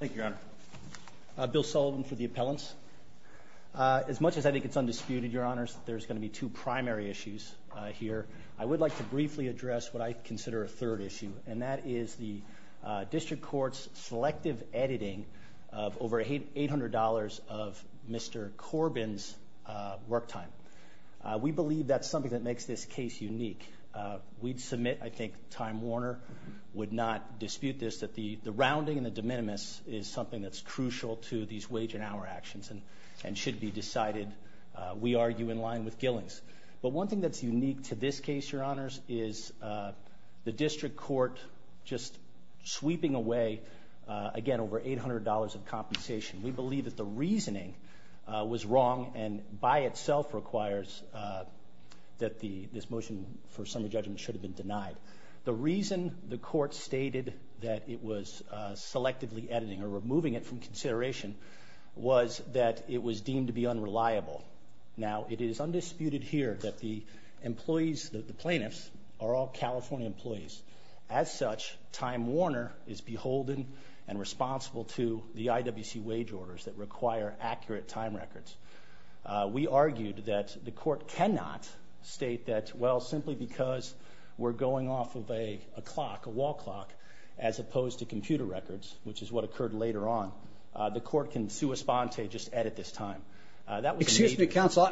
Thank you, Your Honor. Bill Sullivan for the appellants. As much as I think it's undisputed, Your Honors, there's going to be two primary issues here. I would like to briefly address what I consider a third issue, and that is the District Court's selective editing of over $800 of Mr. Corbin's work time. We believe that's something that makes this case unique. We'd submit, I think Time Warner would not dispute this, that the rounding and the de minimis is something that's crucial to these wage and hour actions and should be decided, we argue, in line with Gillings. But one thing that's unique to this case, Your Honors, is the District Court just sweeping away, again, over $800 of compensation. We believe that the reasoning was wrong and by itself requires that this motion for summary judgment should have been denied. The reason the court stated that it was selectively editing or removing it from consideration was that it was deemed to be unreliable. Now, it is undisputed here that the employees, the plaintiffs, are all California employees. As such, Time Warner is beholden and responsible to the IWC wage orders that require accurate time records. We argued that the court cannot state that, well, simply because we're going off of a clock, a wall clock, as opposed to computer records, which is what occurred later on. The court can sui sponte, just edit this time. Excuse me, counsel,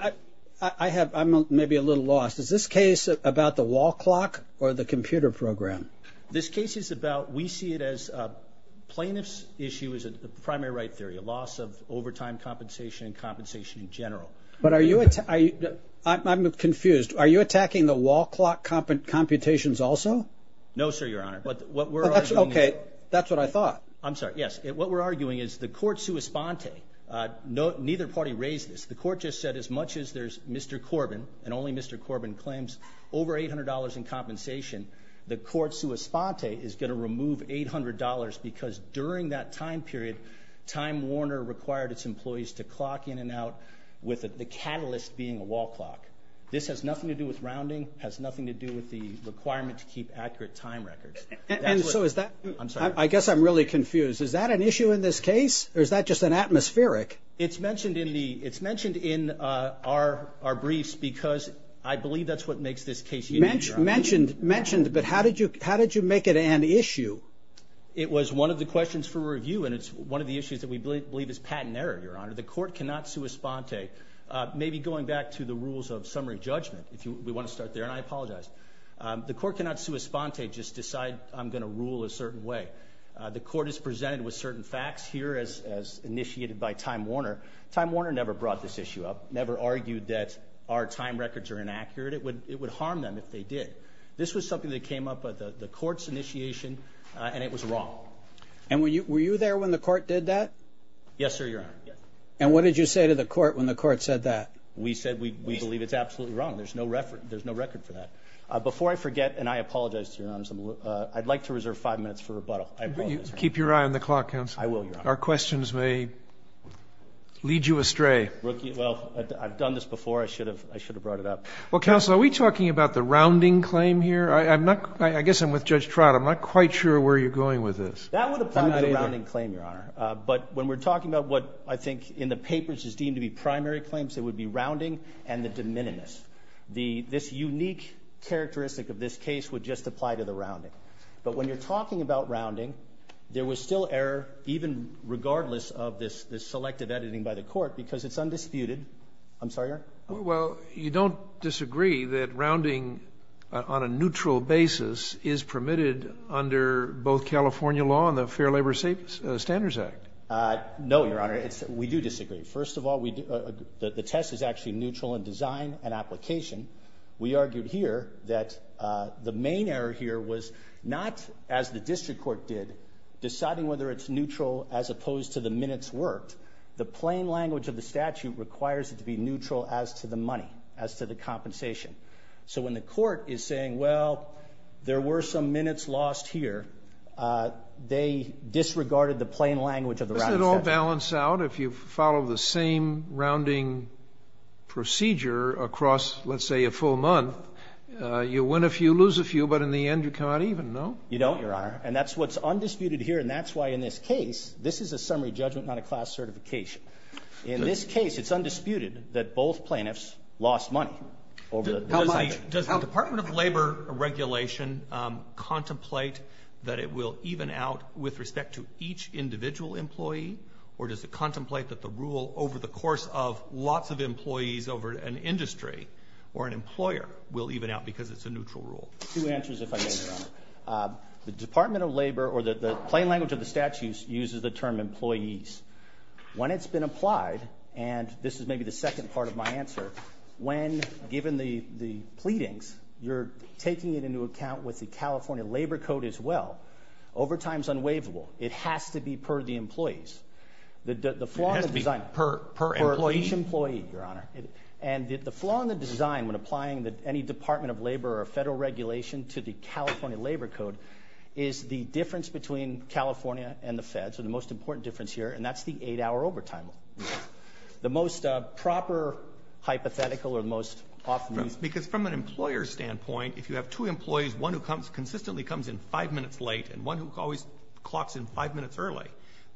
I'm maybe a little lost. Is this case about the wall clock or the computer program? This case is about, we see it as, plaintiff's issue is a primary right theory, a loss of overtime compensation and compensation in general. But are you, I'm confused, are you attacking the wall clock computations also? No, sir, your honor. But what we're actually, okay, that's what I thought. I'm sorry, yes, what we're arguing is the court sui sponte. Neither party raised this. The court just said as much as there's Mr. Corbin and only Mr. Corbin claims over $800 in compensation, the court sui sponte is going to remove $800 because during that time period, Time Warner required its employees to clock in and out with the catalyst being a wall clock. This has nothing to do with the requirement to keep accurate time records. And so is that, I'm sorry, I guess I'm really confused. Is that an issue in this case or is that just an atmospheric? It's mentioned in the, it's mentioned in our briefs because I believe that's what makes this case unique. Mentioned, mentioned, mentioned, but how did you, how did you make it an issue? It was one of the questions for review and it's one of the issues that we believe is patent error, your honor. The court cannot sui sponte. Maybe going back to the rules of summary judgment, if you, we want to start there and I apologize. The court cannot sui sponte, just decide I'm going to rule a certain way. The court is presented with certain facts here as initiated by Time Warner. Time Warner never brought this issue up, never argued that our time records are inaccurate. It would, it would harm them if they did. This was something that came up at the court's initiation and it was wrong. And were you, were you there when the court did that? Yes, sir. Your honor. And what did you say to the court when the court said that? We said we believe it's absolutely wrong. There's no reference, there's no record for that. Before I forget, and I apologize to your honor, I'd like to reserve five minutes for rebuttal. Keep your eye on the clock, counsel. Our questions may lead you astray. Well, I've done this before. I should have, I should have brought it up. Well, counsel, are we talking about the rounding claim here? I'm not, I guess I'm with Judge Trott. I'm not quite sure where you're going with this. That would apply to the rounding claim, your honor. But when we're talking about what I think in the papers is deemed to be primary claims, it would be rounding and the de minimis. The, this unique characteristic of this case would just apply to the rounding. But when you're talking about rounding, there was still error, even regardless of this, this selective editing by the court, because it's undisputed. I'm sorry, your honor? Well, you don't disagree that rounding on a neutral basis is permitted under both California law and the Fair Labor Standards Act? No, your honor, we disagree. First of all, we, the test is actually neutral in design and application. We argued here that the main error here was not, as the district court did, deciding whether it's neutral as opposed to the minutes worked. The plain language of the statute requires it to be neutral as to the money, as to the compensation. So when the court is saying, well, there were some minutes lost here, they disregarded the plain language of the rounding statute. Doesn't that balance out if you follow the same rounding procedure across, let's say, a full month? You win a few, lose a few, but in the end you can't even, no? You don't, your honor. And that's what's undisputed here, and that's why in this case, this is a summary judgment, not a class certification. In this case, it's undisputed that both plaintiffs lost money over the design. Does the Department of Labor regulation contemplate that it will even out with respect to each individual employee, or does it contemplate that the rule over the course of lots of employees over an industry or an employer will even out because it's a neutral rule? Two answers if I may, your honor. The Department of Labor, or the plain language of the statute, uses the term employees. When it's been applied, and this is maybe the second part of my answer, when given the the pleadings, you're taking it into account with the California Labor Code as well. Overtime is unwaivable. It has to be per the employees. It has to be per employee? Per each employee, your honor. And the flaw in the design when applying that any Department of Labor or federal regulation to the California Labor Code is the difference between California and the Fed, so the most important difference here, and that's the eight-hour overtime. The most proper hypothetical, or the most often used... Because from an employer standpoint, if you have two employees, one who comes consistently comes in five minutes late, and one who always clocks in five minutes early,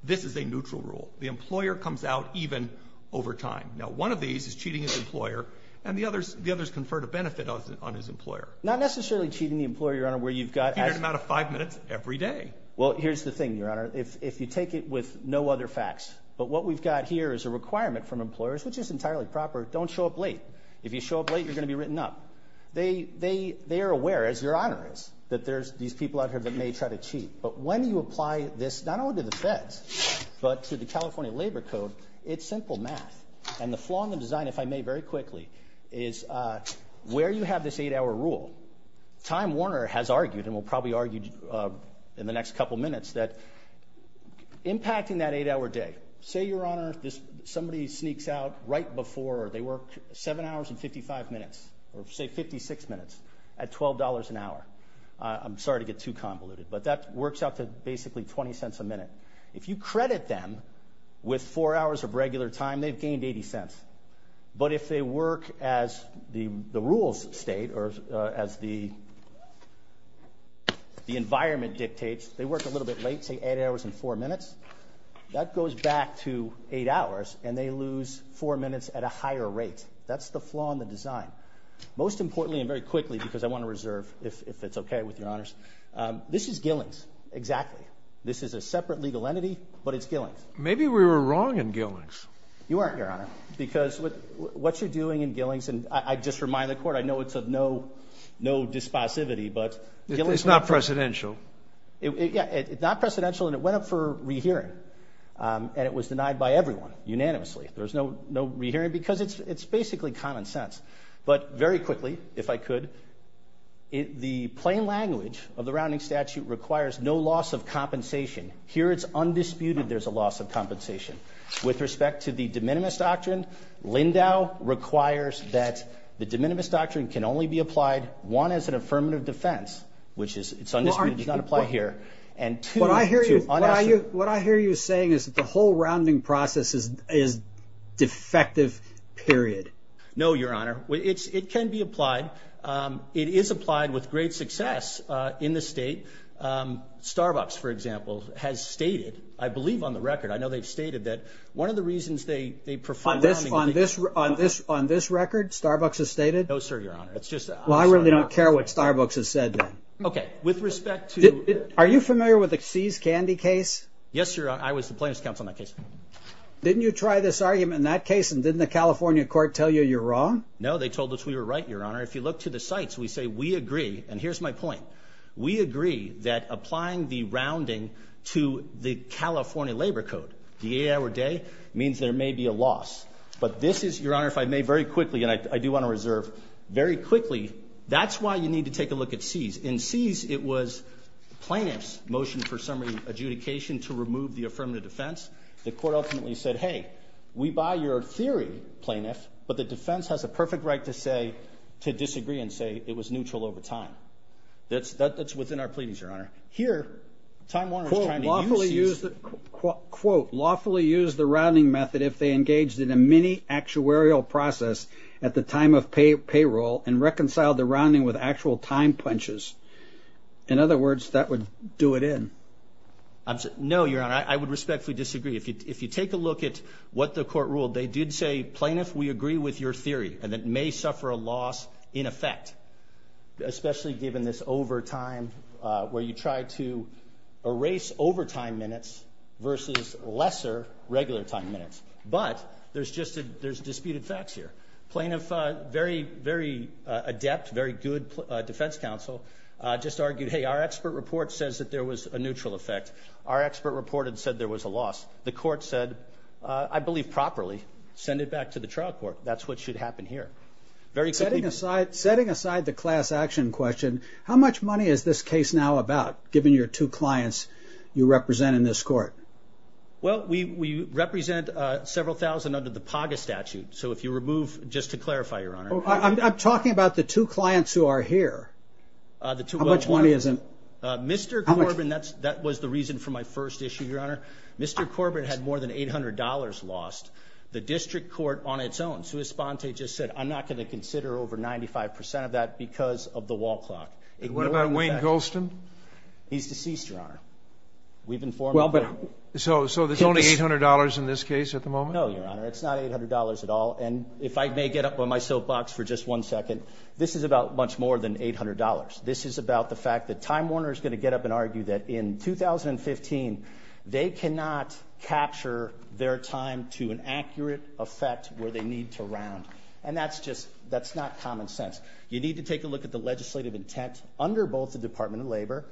this is a neutral rule. The employer comes out even overtime. Now one of these is cheating his employer, and the others the others conferred a benefit on his employer. Not necessarily cheating the employer, your honor, where you've got... In an amount of five minutes every day. Well, here's the thing, your honor. If you take it with no other facts, but what we've got here is a requirement from employers, which is entirely proper, don't show up late. If you show up late, you're gonna be written up. They are aware, as your honor is, that there's these people out there that may try to cheat. But when you apply this, not only to the Feds, but to the California Labor Code, it's simple math. And the flaw in the design, if I may very quickly, is where you have this eight-hour rule, Time Warner has argued, and will probably argue in the next couple minutes, that impacting that eight-hour day... Say, your honor, somebody sneaks out right before they work seven hours and 55 minutes, or say 56 minutes, at $12 an hour. I'm sorry to get too convoluted, but that works out to basically 20 cents a minute. If you credit them with four hours of regular time, they've gained 80 cents. But if they work as the rules state, or as the environment dictates, they work a little bit late, say eight hours and four minutes, that goes back to eight hours, and they lose four minutes at a higher rate. That's the flaw in the design. Most importantly, and very quickly, because I want to reserve, if it's okay with your honor, this is Gillings, exactly. This is a separate legal entity, but it's Gillings. Maybe we were wrong in Gillings. You weren't, your honor, because what you're doing in Gillings, and I just remind the court, I know it's of no dispossivity, but... It's not presidential. Yeah, it's not presidential, and it went up for rehearing. And it was denied by everyone, unanimously. There's no rehearing, because it's basically common sense. But very quickly, if I could, the plain language of the rounding statute requires no loss of compensation. Here it's undisputed there's a loss of compensation. With respect to the de minimis doctrine, Lindau requires that the de minimis doctrine can only be applied, one, as an affirmative defense, which is, it's undisputed, it does not apply here, and two... What I hear you saying is that the whole rounding process is defective, period. No, your honor, it can be applied. It is applied with great success in the state. Starbucks, for example, has stated, I believe on the record, I know they've stated that one of the reasons they prefer rounding... On this record, Starbucks has stated? No, sir, your honor. It's just... Well, I really don't care what Starbucks has said, then. Okay, with respect to... Are you familiar with the See's Candy case? Yes, your honor, I was the plaintiff's counsel on that case. Didn't you try this argument in that case, and didn't the California court tell you you're wrong? No, they told us we were right, your honor. If you look to the sites, we say we agree, and here's my point, we agree that applying the rounding to the California Labor Code, the 8-hour day, means there may be a loss. But this is, your honor, if I may very quickly, and I do want to reserve, very quickly, that's why you need to take a look at See's. In See's, it was plaintiff's motion for summary adjudication to remove the affirmative defense. The court ultimately said, hey, we buy your theory, plaintiff, but the defense has a perfect right to say, to disagree, and say it was neutral over time. That's within our pleadings, your honor. Here, Time Warner... Quote, lawfully used the rounding method if they engaged in a mini actuarial process at the time of payroll, and reconciled the rounding with actual time punches. In other words, that would do it in. No, your honor, I would respectfully disagree. If you take a look at what the court ruled, they did say, plaintiff, we agree with your theory, and it may suffer a loss in effect, especially given this overtime, where you try to erase overtime minutes versus lesser regular time minutes. But there's disputed facts here. Plaintiff, very, very adept, very good defense counsel, just argued, hey, our expert report says that there was a I believe properly, send it back to the trial court. That's what should happen here. Setting aside the class action question, how much money is this case now about, given your two clients you represent in this court? Well, we represent several thousand under the PAGA statute. So if you remove, just to clarify, your honor... I'm talking about the two clients who are here. How much money is it? Mr. Corbin, that was the reason for my first issue, your honor. Mr. Corbin had more than $800 lost. The district court on its own, Sue Esponte just said, I'm not going to consider over 95% of that because of the wall clock. And what about Wayne Golston? He's deceased, your honor. We've informed... Well, but so there's only $800 in this case at the moment? No, your honor, it's not $800 at all. And if I may get up on my soapbox for just one second, this is about much more than $800. This is about the fact that Time Warner is going to get up and argue that in 2015, they cannot capture their time to an accurate effect where they need to round. And that's just, that's not common sense. You need to take a look at the legislative intent under both the Department of Labor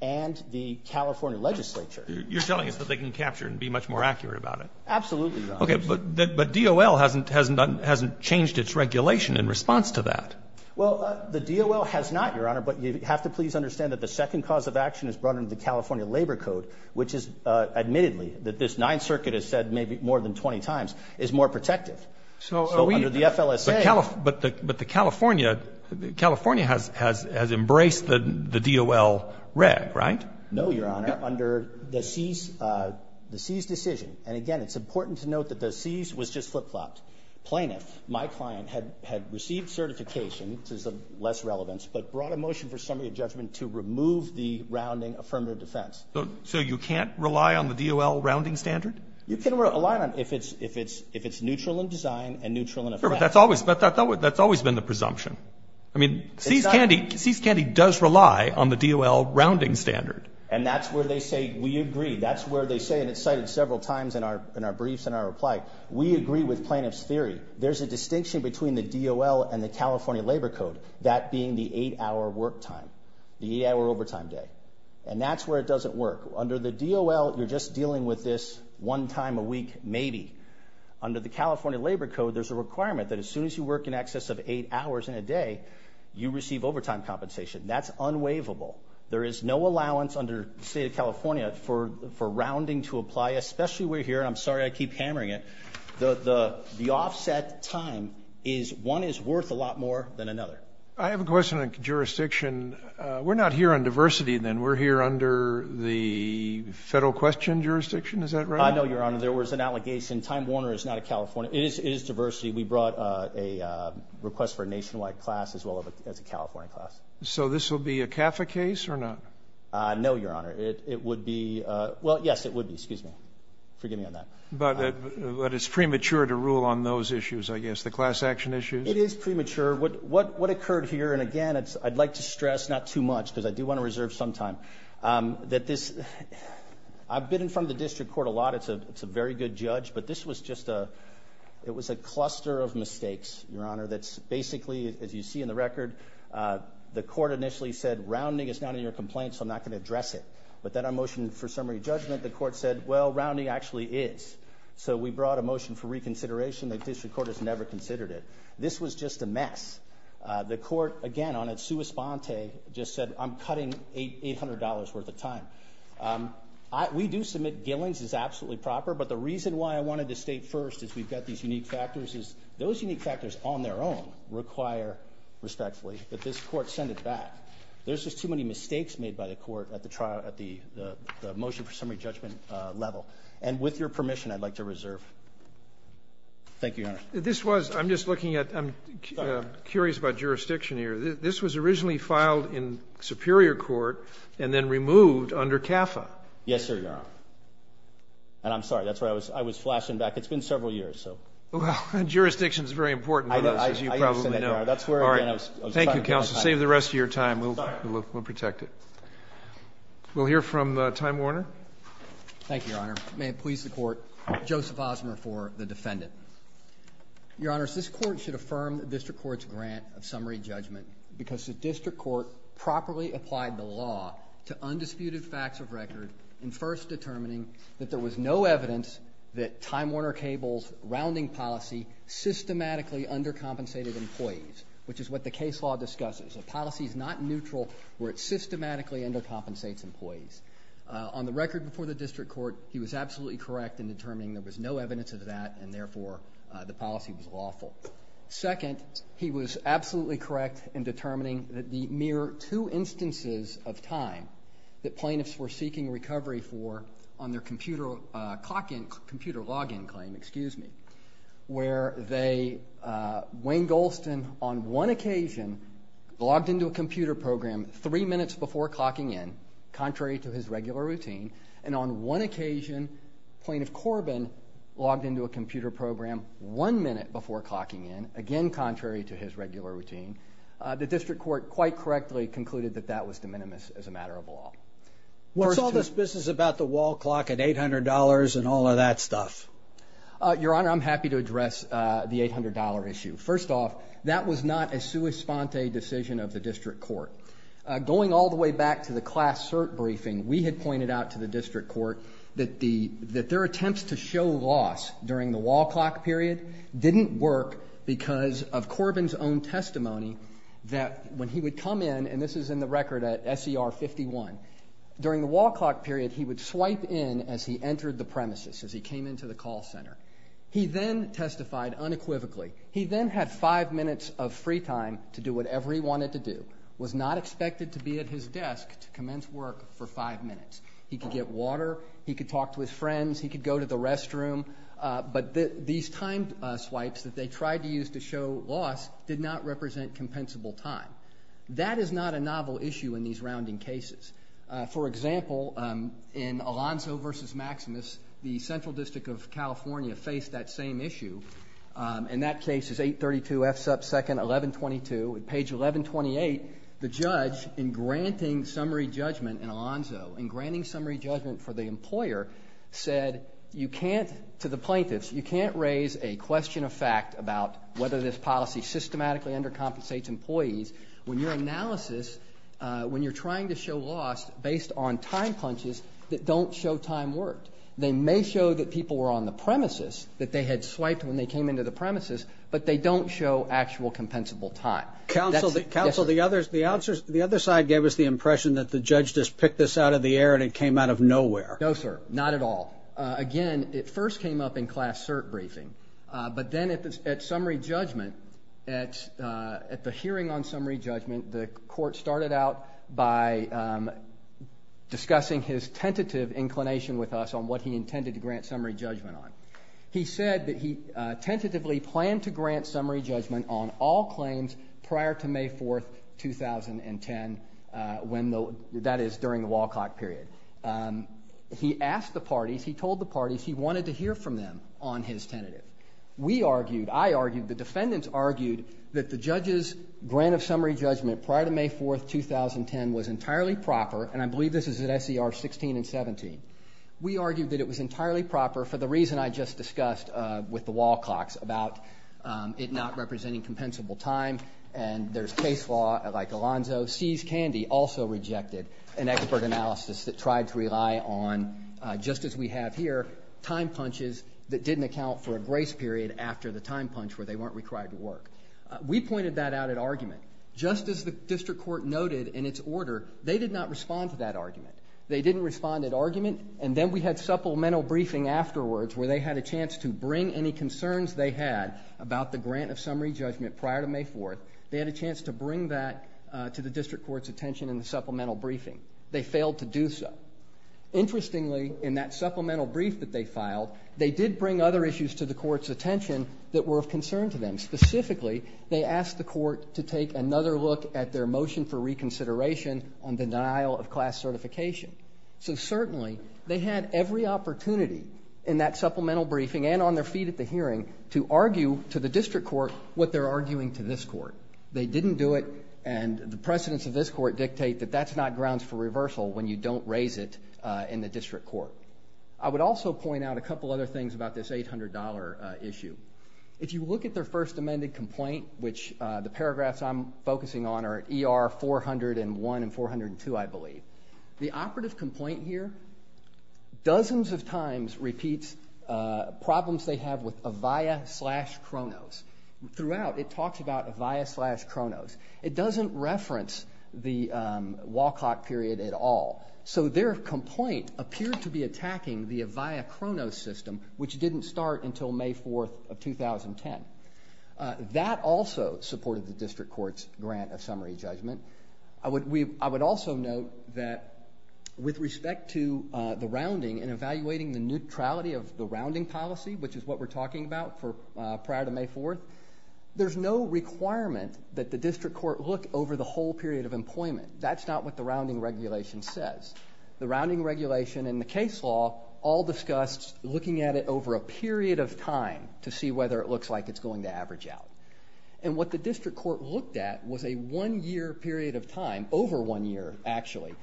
and the California legislature. You're telling us that they can capture and be much more accurate about it? Absolutely, your honor. Okay, but DOL hasn't changed its regulation in response to that. Well, the DOL has not, your honor, but you have to please understand that the second cause of action is brought into the California Labor Code, which is admittedly that this Ninth Circuit has said maybe more than 20 times, is more protective. So under the FLSA... But the California has embraced the DOL reg, right? No, your honor. Under the CEAS decision, and again, it's important to note that the CEAS was just flip-flopped. Plaintiff, my client, had received certification, which is of less relevance, but brought a motion for summary of judgment to remove the rounding affirmative defense. So you can't rely on the DOL rounding standard? You can rely on it if it's neutral in design and neutral in effect. Sure, but that's always been the presumption. I mean, CEAS Candy does rely on the DOL rounding standard. And that's where they say, we agree. That's where they say, and it's cited several times in our briefs and our reply, we agree with plaintiff's theory. There's a distinction between the DOL and the California Labor Code, that being the eight hour work time, the eight hour overtime day. And that's where it doesn't work. Under the DOL, you're just dealing with this one time a week, maybe. Under the California Labor Code, there's a requirement that as soon as you work in excess of eight hours in a day, you receive overtime compensation. That's unwaivable. There is no allowance under the state of California for rounding to apply, especially we're here, and I'm sorry I keep hammering it. The offset time is one is worth a lot more than another. I have a question on jurisdiction. We're not here on diversity, then. We're here under the federal question jurisdiction. Is that right? I know, Your Honor. There was an allegation. Time Warner is not a California... It is diversity. We brought a request for a nationwide class as well as a California class. So this will be a CAFA case or not? No, Your Honor. It would be... Well, yes, it would be. Excuse me. Forgive me on that. But it's premature to rule on those issues, I guess. The class action issues? It is premature. What occurred here, and again, I'd like to stress, not too much, because I do wanna reserve some time, that this... I've been in front of the district court a lot. It's a very good judge, but this was just a... It was a cluster of mistakes, Your Honor, that's basically, as you see in the record, the court initially said, rounding is not in your complaint, so I'm not gonna address it. But then our motion for summary judgment, the court said, well, rounding actually is. So we brought a motion for reconsideration. The district court has never considered it. This was just a mess. The court, again, on its sua sponte, just said, I'm cutting $800 worth of time. We do submit Gillings is absolutely proper, but the reason why I wanted to state first is we've got these that this court sent it back. There's just too many mistakes made by the court at the motion for summary judgment level. And with your permission, I'd like to reserve. Thank you, Your Honor. This was... I'm just looking at... I'm curious about jurisdiction here. This was originally filed in Superior Court, and then removed under CAFA. Yes, sir, Your Honor. And I'm sorry, that's why I was flashing back. It's been several years, so... Well, jurisdiction is very important on this, as you probably know. I understand that. Thank you, counsel. Save the rest of your time. We'll protect it. We'll hear from Time Warner. Thank you, Your Honor. May it please the court, Joseph Osmer for the defendant. Your Honors, this court should affirm the district court's grant of summary judgment because the district court properly applied the law to undisputed facts of record in first determining that there was no evidence that Time Warner Cable's rounding policy systematically undercompensated employees, which is what the case law discusses. A policy is not neutral where it systematically undercompensates employees. On the record before the district court, he was absolutely correct in determining there was no evidence of that, and therefore, the policy was lawful. Second, he was absolutely correct in determining that the mere two instances of Time that plaintiffs were seeking recovery for on their computer clock in... Computer log in claim, excuse me, where they... Wayne Golston, on one occasion, logged into a computer program three minutes before clocking in, contrary to his regular routine, and on one occasion, Plaintiff Corbin logged into a computer program one minute before clocking in, again, contrary to his regular routine. The district court quite correctly concluded that that was de minimis as a matter of law. We saw this business about the wall clock at $800 and all of that stuff. Your Honor, I'm happy to address the $800 issue. First off, that was not a sua sponte decision of the district court. Going all the way back to the class cert briefing, we had pointed out to the district court that their attempts to show loss during the wall clock period didn't work because of Corbin's own testimony that when he would come in, and this is in the record at SCR 51, during the wall clock period, he would swipe in as he entered the premises, as he came into the call center. He then testified unequivocally. He then had five minutes of free time to do whatever he wanted to do, was not expected to be at his desk to commence work for five minutes. He could get water, he could talk to his friends, he could go to the restroom, but these time swipes that they tried to use to show loss did not represent compensable time. That is not a novel issue in these rounding cases. For example, in Alonzo versus Maximus, the Central District of California faced that same issue. In that case, it's 832 F sub second 1122. On page 1128, the judge, in granting summary judgment in Alonzo, in granting summary judgment for the employer, said, to the plaintiffs, you can't raise a question of fact about whether this was true. When your analysis, when you're trying to show loss based on time punches that don't show time worked, they may show that people were on the premises, that they had swiped when they came into the premises, but they don't show actual compensable time. Counsel, the other side gave us the impression that the judge just picked this out of the air and it came out of nowhere. No, sir, not at all. Again, it first came up in class cert briefing, but then at summary judgment, the court started out by discussing his tentative inclination with us on what he intended to grant summary judgment on. He said that he tentatively planned to grant summary judgment on all claims prior to May 4th, 2010, that is during the Walcott period. He asked the parties, he told the parties he wanted to hear from them on his tentative. We argued, I argued, the defendants argued that the judge's grant of summary judgment prior to May 4th, 2010 was entirely proper, and I believe this is at SCR 16 and 17. We argued that it was entirely proper for the reason I just discussed with the Walcocks about it not representing compensable time, and there's case law like Alonzo. Seize Candy also rejected an expert analysis that tried to rely on, just as we have here, time punches that didn't account for a grace period after the time punch where they weren't required to work. We pointed that out at argument. Just as the district court noted in its order, they did not respond to that argument. They didn't respond at argument, and then we had supplemental briefing afterwards where they had a chance to bring any concerns they had about the grant of summary judgment prior to May 4th. They had a chance to bring that to the district court's attention in the supplemental briefing. They failed to do so. Interestingly, in that supplemental brief that they filed, they did bring other issues to the court's attention that were of concern to them. Specifically, they asked the court to take another look at their motion for reconsideration on the denial of class certification. So certainly, they had every opportunity in that supplemental briefing and on their feet at the hearing to argue to the district court what they're arguing to this court. They didn't do it, and the precedence of this court dictate that that's not grounds for reversal when you don't raise it in the district court. I would also point out a couple other things about this $800 issue. If you look at their first amended complaint, which the paragraphs I'm focusing on are ER 401 and 402, I believe. The operative complaint here dozens of times repeats problems they have with Avaya slash Kronos. Throughout, it talks about Avaya slash Kronos. It doesn't reference the Walcott period at all. So their complaint appeared to be attacking the Avaya Kronos system, which didn't start until May 4th of 2010. That also supported the district court's grant of summary judgment. I would also note that with respect to the rounding and evaluating the neutrality of the rounding policy, which is what we're talking about prior to May 4th, there's no requirement that the district court look over the whole period of employment. That's not what the rounding regulation says. The rounding regulation and the case law all discussed looking at it over a period of time to see whether it looks like it's going to average out. And what the district court looked at was a one year period of time, over one year actually,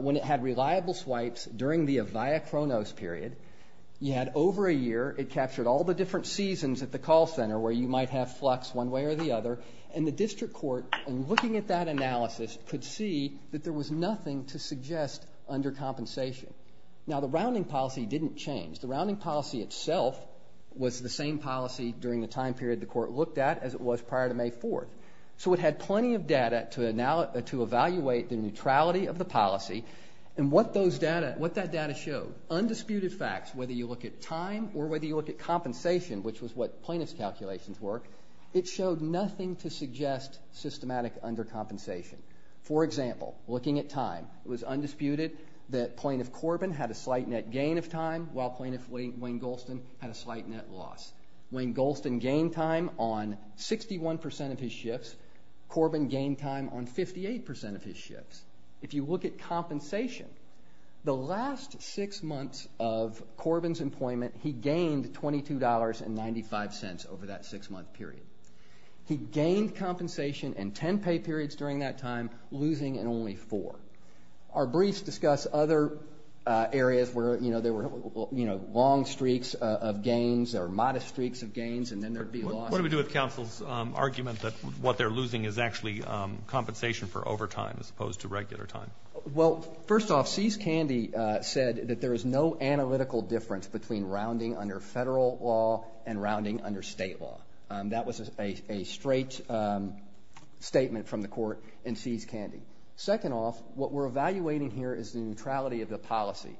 when it had reliable swipes during the Avaya Kronos period. You had over a year, it captured all the different seasons at the call center where you might have flux one way or the other. And the district court, in looking at that analysis, could see that there was nothing to suggest under compensation. Now, the rounding policy didn't change. The rounding policy itself was the same policy during the time period the court looked at as it was prior to May 4th. So it had plenty of data to evaluate the neutrality of the policy. And what that data showed, undisputed facts, whether you look at time or whether you look at compensation, which was what plaintiff's calculations were, it showed nothing to suggest systematic under compensation. For example, looking at time, it was undisputed that plaintiff Corbin had a slight net gain of time, while plaintiff Wayne Golston had a slight net loss. Wayne Golston gained time on 61% of his shifts, Corbin gained time on 58% of his shifts. If you look at compensation, the last six months of Corbin's employment, he gained $22.95 over that six month period. He gained compensation in 10 pay periods during that time, losing in only four. Our briefs discuss other areas where there were long streaks of gains or modest streaks of gains, and then there'd be loss. What do we do with counsel's argument that what they're losing is actually compensation for overtime as opposed to regular time? Well, first off, C's Candy said that there is no analytical difference between rounding under a straight statement from the court and C's Candy. Second off, what we're evaluating here is the neutrality of the policy.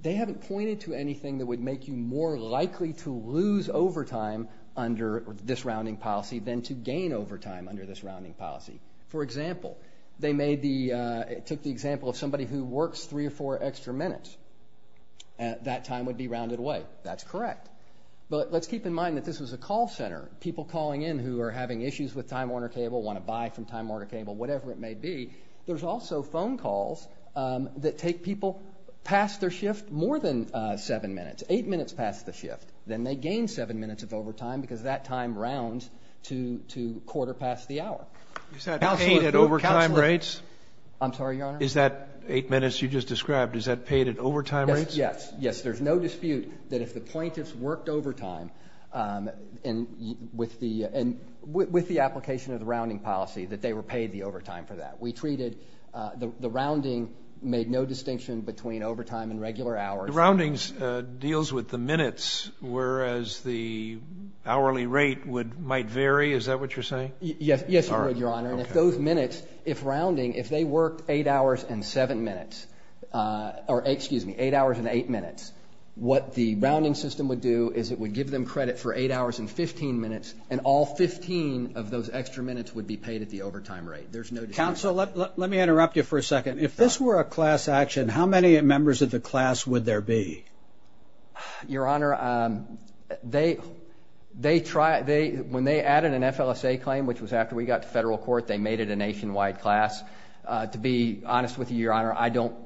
They haven't pointed to anything that would make you more likely to lose overtime under this rounding policy than to gain overtime under this rounding policy. For example, they made the... Took the example of somebody who works three or four extra minutes, that time would be rounded away. That's correct. But let's keep in mind that this was a call center, people calling in who are having issues with Time Warner Cable, wanna buy from Time Warner Cable, whatever it may be. There's also phone calls that take people past their shift more than seven minutes, eight minutes past the shift, then they gain seven minutes of overtime because that time rounds to quarter past the hour. Is that paid at overtime rates? I'm sorry, Your Honor? Is that eight minutes you just described, is that paid at overtime rates? Yes, yes. There's no dispute that if the appointees worked overtime with the application of the rounding policy, that they were paid the overtime for that. We treated... The rounding made no distinction between overtime and regular hours. The roundings deals with the minutes, whereas the hourly rate might vary, is that what you're saying? Yes, you would, Your Honor. And if those minutes, if rounding, if they worked eight hours and seven minutes, or excuse me, eight hours and eight minutes, what the rounding system would do is it would give them credit for eight hours and 15 minutes, and all 15 of those extra minutes would be paid at the overtime rate. There's no dispute. Counselor, let me interrupt you for a second. If this were a class action, how many members of the class would there be? Your Honor, when they added an FLSA claim, which was after we got to federal nationwide class, to be honest with you, Your Honor,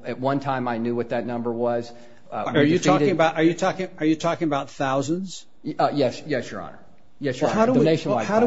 at one time I knew what that number was. Are you talking about thousands? Yes, Your Honor. Yes, Your Honor, the nationwide class.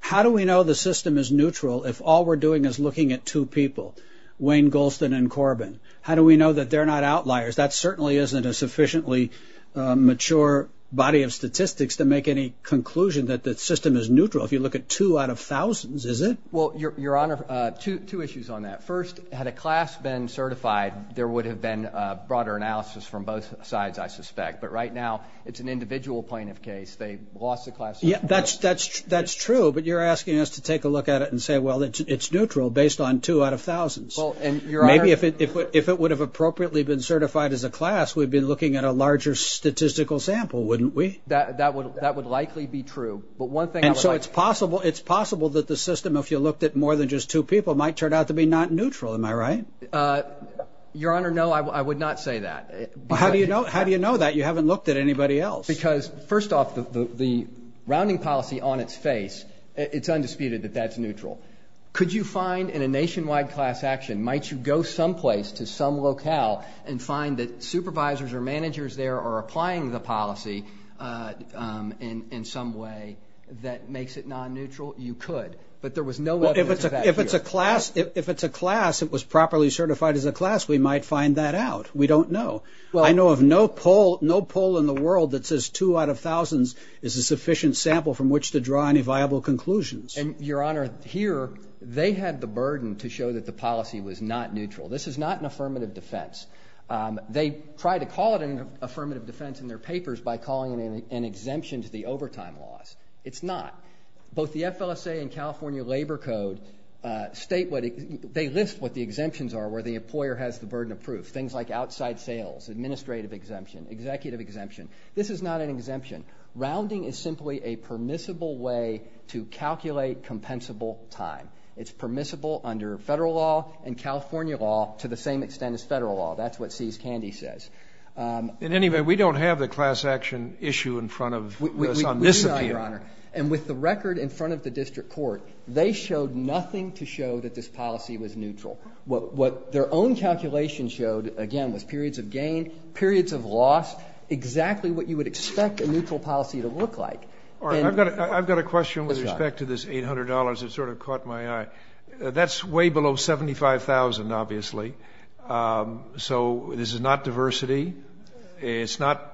How do we know the system is neutral if all we're doing is looking at two people, Wayne Golston and Corbin? How do we know that they're not outliers? That certainly isn't a sufficiently mature body of statistics to make any conclusion that the system is neutral. If you look at two out of thousands, is it? Well, Your Honor, two issues on that. First, had a class been certified, there would have been a broader analysis from both sides, I suspect. But right now, it's an individual plaintiff case. They lost the class... Yeah, that's true, but you're asking us to take a look at it and say, well, it's neutral based on two out of thousands. Well, and Your Honor... Maybe if it would have appropriately been certified as a class, we'd be looking at a larger statistical sample, wouldn't we? That would likely be true. But one thing... And so it's possible that the system, if you looked at more than just two people, might turn out to be not neutral. Am I right? Your Honor, no, I would not say that. How do you know that you haven't looked at anybody else? Because first off, the rounding policy on its face, it's undisputed that that's neutral. Could you find in a nationwide class action, might you go someplace to some locale and find that supervisors or managers there are applying the policy in some way that makes it non neutral? You could, but there was no evidence of that here. If it's a class, if it's a class, it was properly certified as a class, we might find that out. We don't know. I know of no poll in the world that says two out of thousands is a sufficient sample from which to draw any viable conclusions. And Your Honor, here, they had the burden to show that the policy was not neutral. This is not an affirmative defense. They tried to call it an affirmative defense in their papers by calling it an exemption to the overtime laws. It's not. Both the FLSA and California Labor Code state what... They list what the exemptions are, where the employer has the burden of proof. Things like outside sales, administrative exemption, executive exemption. This is not an exemption. Rounding is simply a permissible way to calculate compensable time. It's permissible under federal law and California law to the same extent as federal law. That's what Seize Candy says. In any event, we don't have the class action issue in front of us on this appeal. We do not, Your Honor. And with the record in front of the district court, they showed nothing to show that this policy was neutral. What their own calculation showed, again, was periods of gain, periods of loss, exactly what you would expect a neutral policy to look like. I've got a question with respect to this $800. It sort of caught my eye. That's way below $75,000, obviously. So this is not diversity? It's not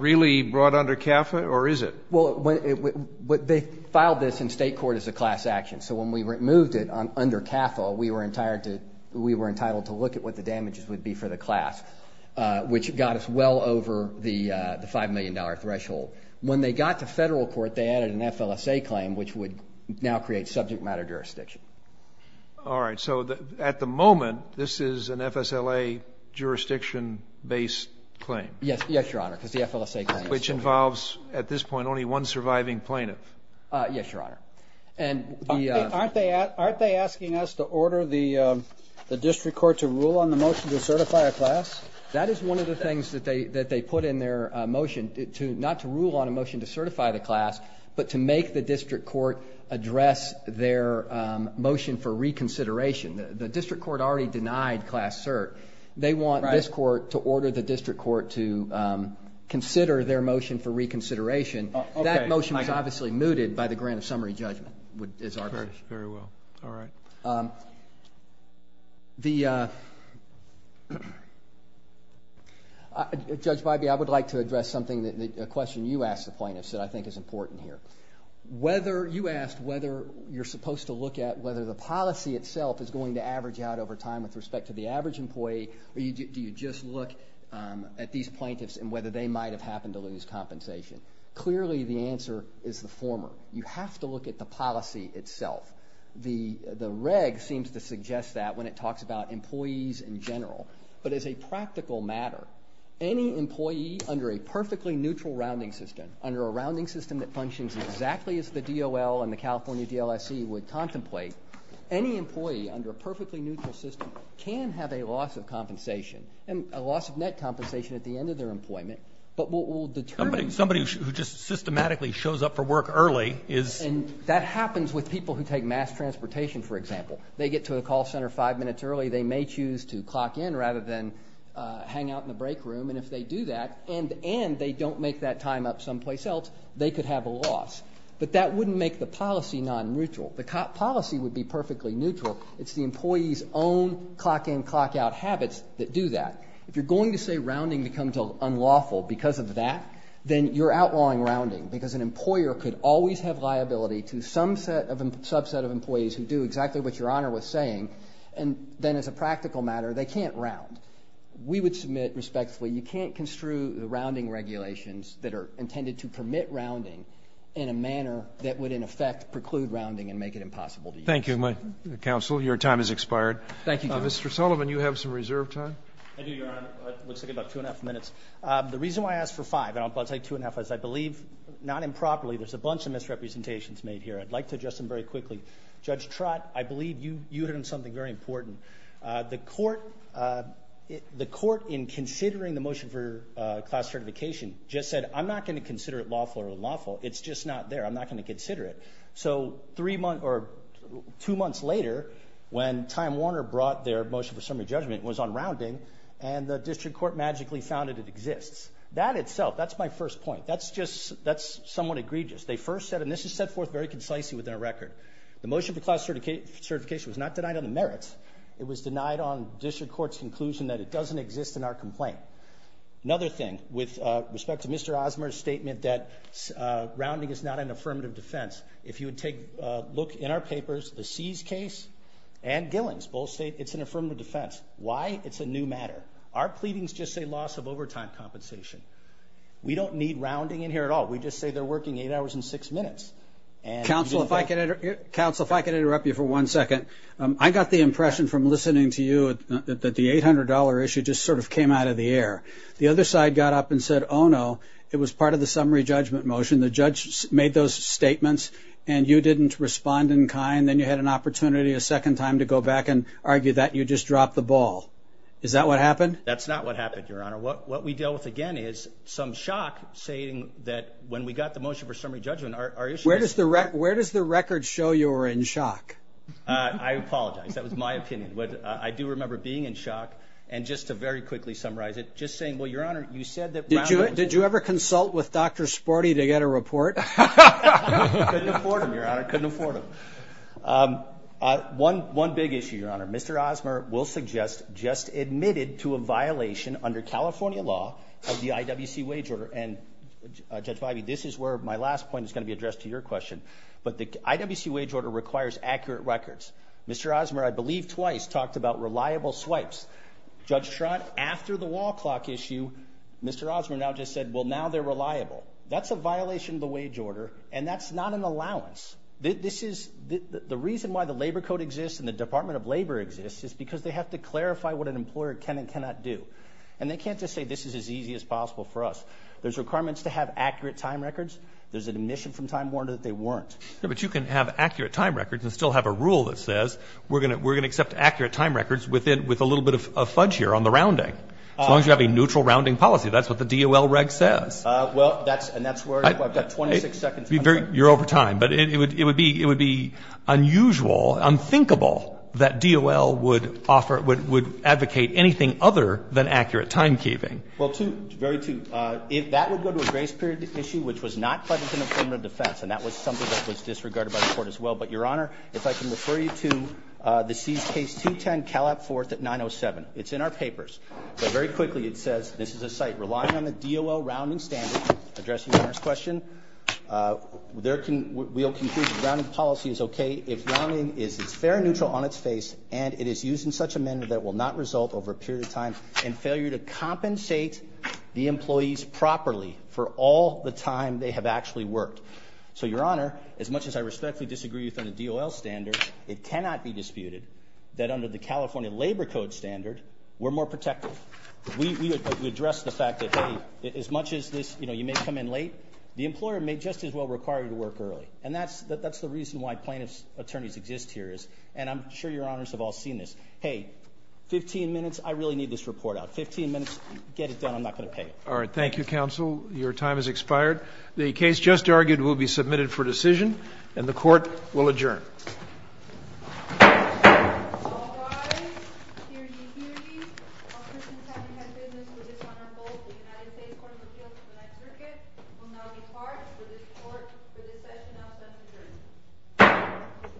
really brought under CAFA, or is it? Well, they filed this in state court as a class action. So when we removed it under CAFA, we were entitled to look at what the damages would be for the class, which got us well over the $5 million threshold. When they got to federal court, they added an FLSA claim, which would now create subject matter jurisdiction. All right. So at the moment, this is an FSLA jurisdiction-based claim? Yes, Your Honor, because the FLSA claim is... Which involves, at this point, only one surviving plaintiff? Yes, Your Honor. And the... Aren't they asking us to order the district court to rule on the motion to certify a class? That is one of the things that they put in their motion, not to rule on a motion to certify the class, but to make the district court address their motion for reconsideration. The district court already denied class cert. They want this court to order the district court to consider their motion for reconsideration. That motion was obviously mooted by the grant of summary judgment, is our position. Very well. All right. The... Judge Bybee, I would like to address something, a question you asked the plaintiffs, that I think is important here. You asked whether you're supposed to look at whether the policy itself is going to average out over time with respect to the average employee, or do you just look at these plaintiffs and whether they might have happened to lose compensation? Clearly, the answer is the former. You have to look at the policy itself. The reg seems to suggest that when it talks about employees in general. But as a practical matter, any employee under a perfectly neutral rounding system, under a rounding system that functions exactly as the DOL and the California DLSC would contemplate, any employee under a perfectly neutral system can have a loss of compensation, and a loss of net compensation at the end of their employment. But what will determine... Somebody who just systematically shows up for work early is... And that happens with people who take mass transportation, for example. They get to a call center five minutes early. They may choose to clock in rather than hang out in the break room, and if they do that and they don't make that time up someplace else, they could have a loss. But that wouldn't make the policy non-neutral. The policy would be perfectly neutral. It's the employee's own clock-in, clock-out habits that do that. If you're going to say rounding becomes unlawful because of that, then you're outlawing rounding because an employer could always have liability to some subset of employees who do exactly what Your Honor was saying, and then as a practical matter, they can't round. We would submit respectfully you can't construe the rounding regulations that are intended to permit rounding in a manner that would in effect preclude rounding and make it impossible to use. Thank you, Counsel. Your time has expired. Thank you, Justice. Mr. Sullivan, you have some reserve time. I do, Your Honor. It looks like about two and a half minutes. The reason why I asked for five, and I'll take two and a half minutes, I believe not improperly there's a bunch of misrepresentations made here. I'd like to address them very quickly. Judge Trott, I believe you hit on something very important. The court in considering the motion for class certification just said, I'm not going to consider it lawful or unlawful. It's just not there. I'm not going to consider it. So two months later when Time Warner brought their motion for summary judgment, it was on rounding, and the district court magically found that it exists. That itself, that's my first point. That's just somewhat egregious. They first said, and this is set forth very concisely within our record, the motion for class certification was not denied on the merits. It was denied on district court's conclusion that it doesn't exist in our complaint. Another thing, with respect to Mr. Osmer's statement that rounding is not an affirmative defense, if you would take a look in our papers, the Sees case and Gillings both state it's an affirmative defense. Why? It's a new matter. Our pleadings just say loss of overtime compensation. We don't need rounding in here at all. We just say they're working eight hours and six minutes. Counsel, if I could interrupt you for one second. I got the impression from listening to you that the $800 issue just sort of came out of the air. The other side got up and said, oh, no, it was part of the summary judgment motion. The judge made those statements, and you didn't respond in kind. Then you had an opportunity a second time to go back and argue that. You just dropped the ball. Is that what happened? That's not what happened, Your Honor. What we dealt with, again, is some shock, saying that when we got the motion for summary judgment, our issue is- Where does the record show you were in shock? I apologize. That was my opinion. I do remember being in shock, and just to very quickly summarize it, just saying, well, Your Honor, you said that- Did you ever consult with Dr. Sporty to get a report? Couldn't afford him, Your Honor. Couldn't afford him. One big issue, Your Honor. Mr. Osmer will suggest just admitted to a violation under California law of the IWC wage order. And, Judge Vibey, this is where my last point is going to be addressed to your question. But the IWC wage order requires accurate records. Mr. Osmer, I believe twice, talked about reliable swipes. Judge Schrott, after the wall clock issue, Mr. Osmer now just said, well, now they're reliable. That's a violation of the wage order, and that's not an allowance. The reason why the labor code exists and the Department of Labor exists is because they have to clarify what an employer can and cannot do. And they can't just say this is as easy as possible for us. There's requirements to have accurate time records. There's an admission from time warrant that they weren't. But you can have accurate time records and still have a rule that says we're going to accept accurate time records with a little bit of fudge here on the rounding. As long as you have a neutral rounding policy. That's what the DOL reg says. Well, and that's where I've got 26 seconds. You're over time. But it would be unusual, unthinkable, that DOL would advocate anything other than accurate time keeping. Well, two, very two. That would go to a grace period issue, which was not pleasant in a form of defense. And that was something that was disregarded by the court as well. But, Your Honor, if I can refer you to the C's case 210, Calab Fourth at 907. It's in our papers. But very quickly, it says this is a site relying on the DOL rounding standard. Addressing Your Honor's question, we'll conclude that rounding policy is okay if rounding is fair and neutral on its face. And it is used in such a manner that will not result over a period of time in failure to compensate the employees properly for all the time they have actually worked. So, Your Honor, as much as I respectfully disagree with the DOL standard, it cannot be disputed that under the California Labor Code standard, we're more protective. We address the fact that, hey, as much as this, you know, you may come in late, the employer may just as well require you to work early. And that's the reason why plaintiff's attorneys exist here. And I'm sure Your Honors have all seen this. Hey, 15 minutes, I really need this report out. 15 minutes, get it done. I'm not going to pay you. All right. Thank you, counsel. Your time has expired. The case just argued will be submitted for decision, and the court will adjourn. All rise. Hear ye, hear ye. While Christians haven't had business with this honorable, the United States Court of Appeals for the Ninth Circuit will now depart. For this court, for this session, I'll send adjournment.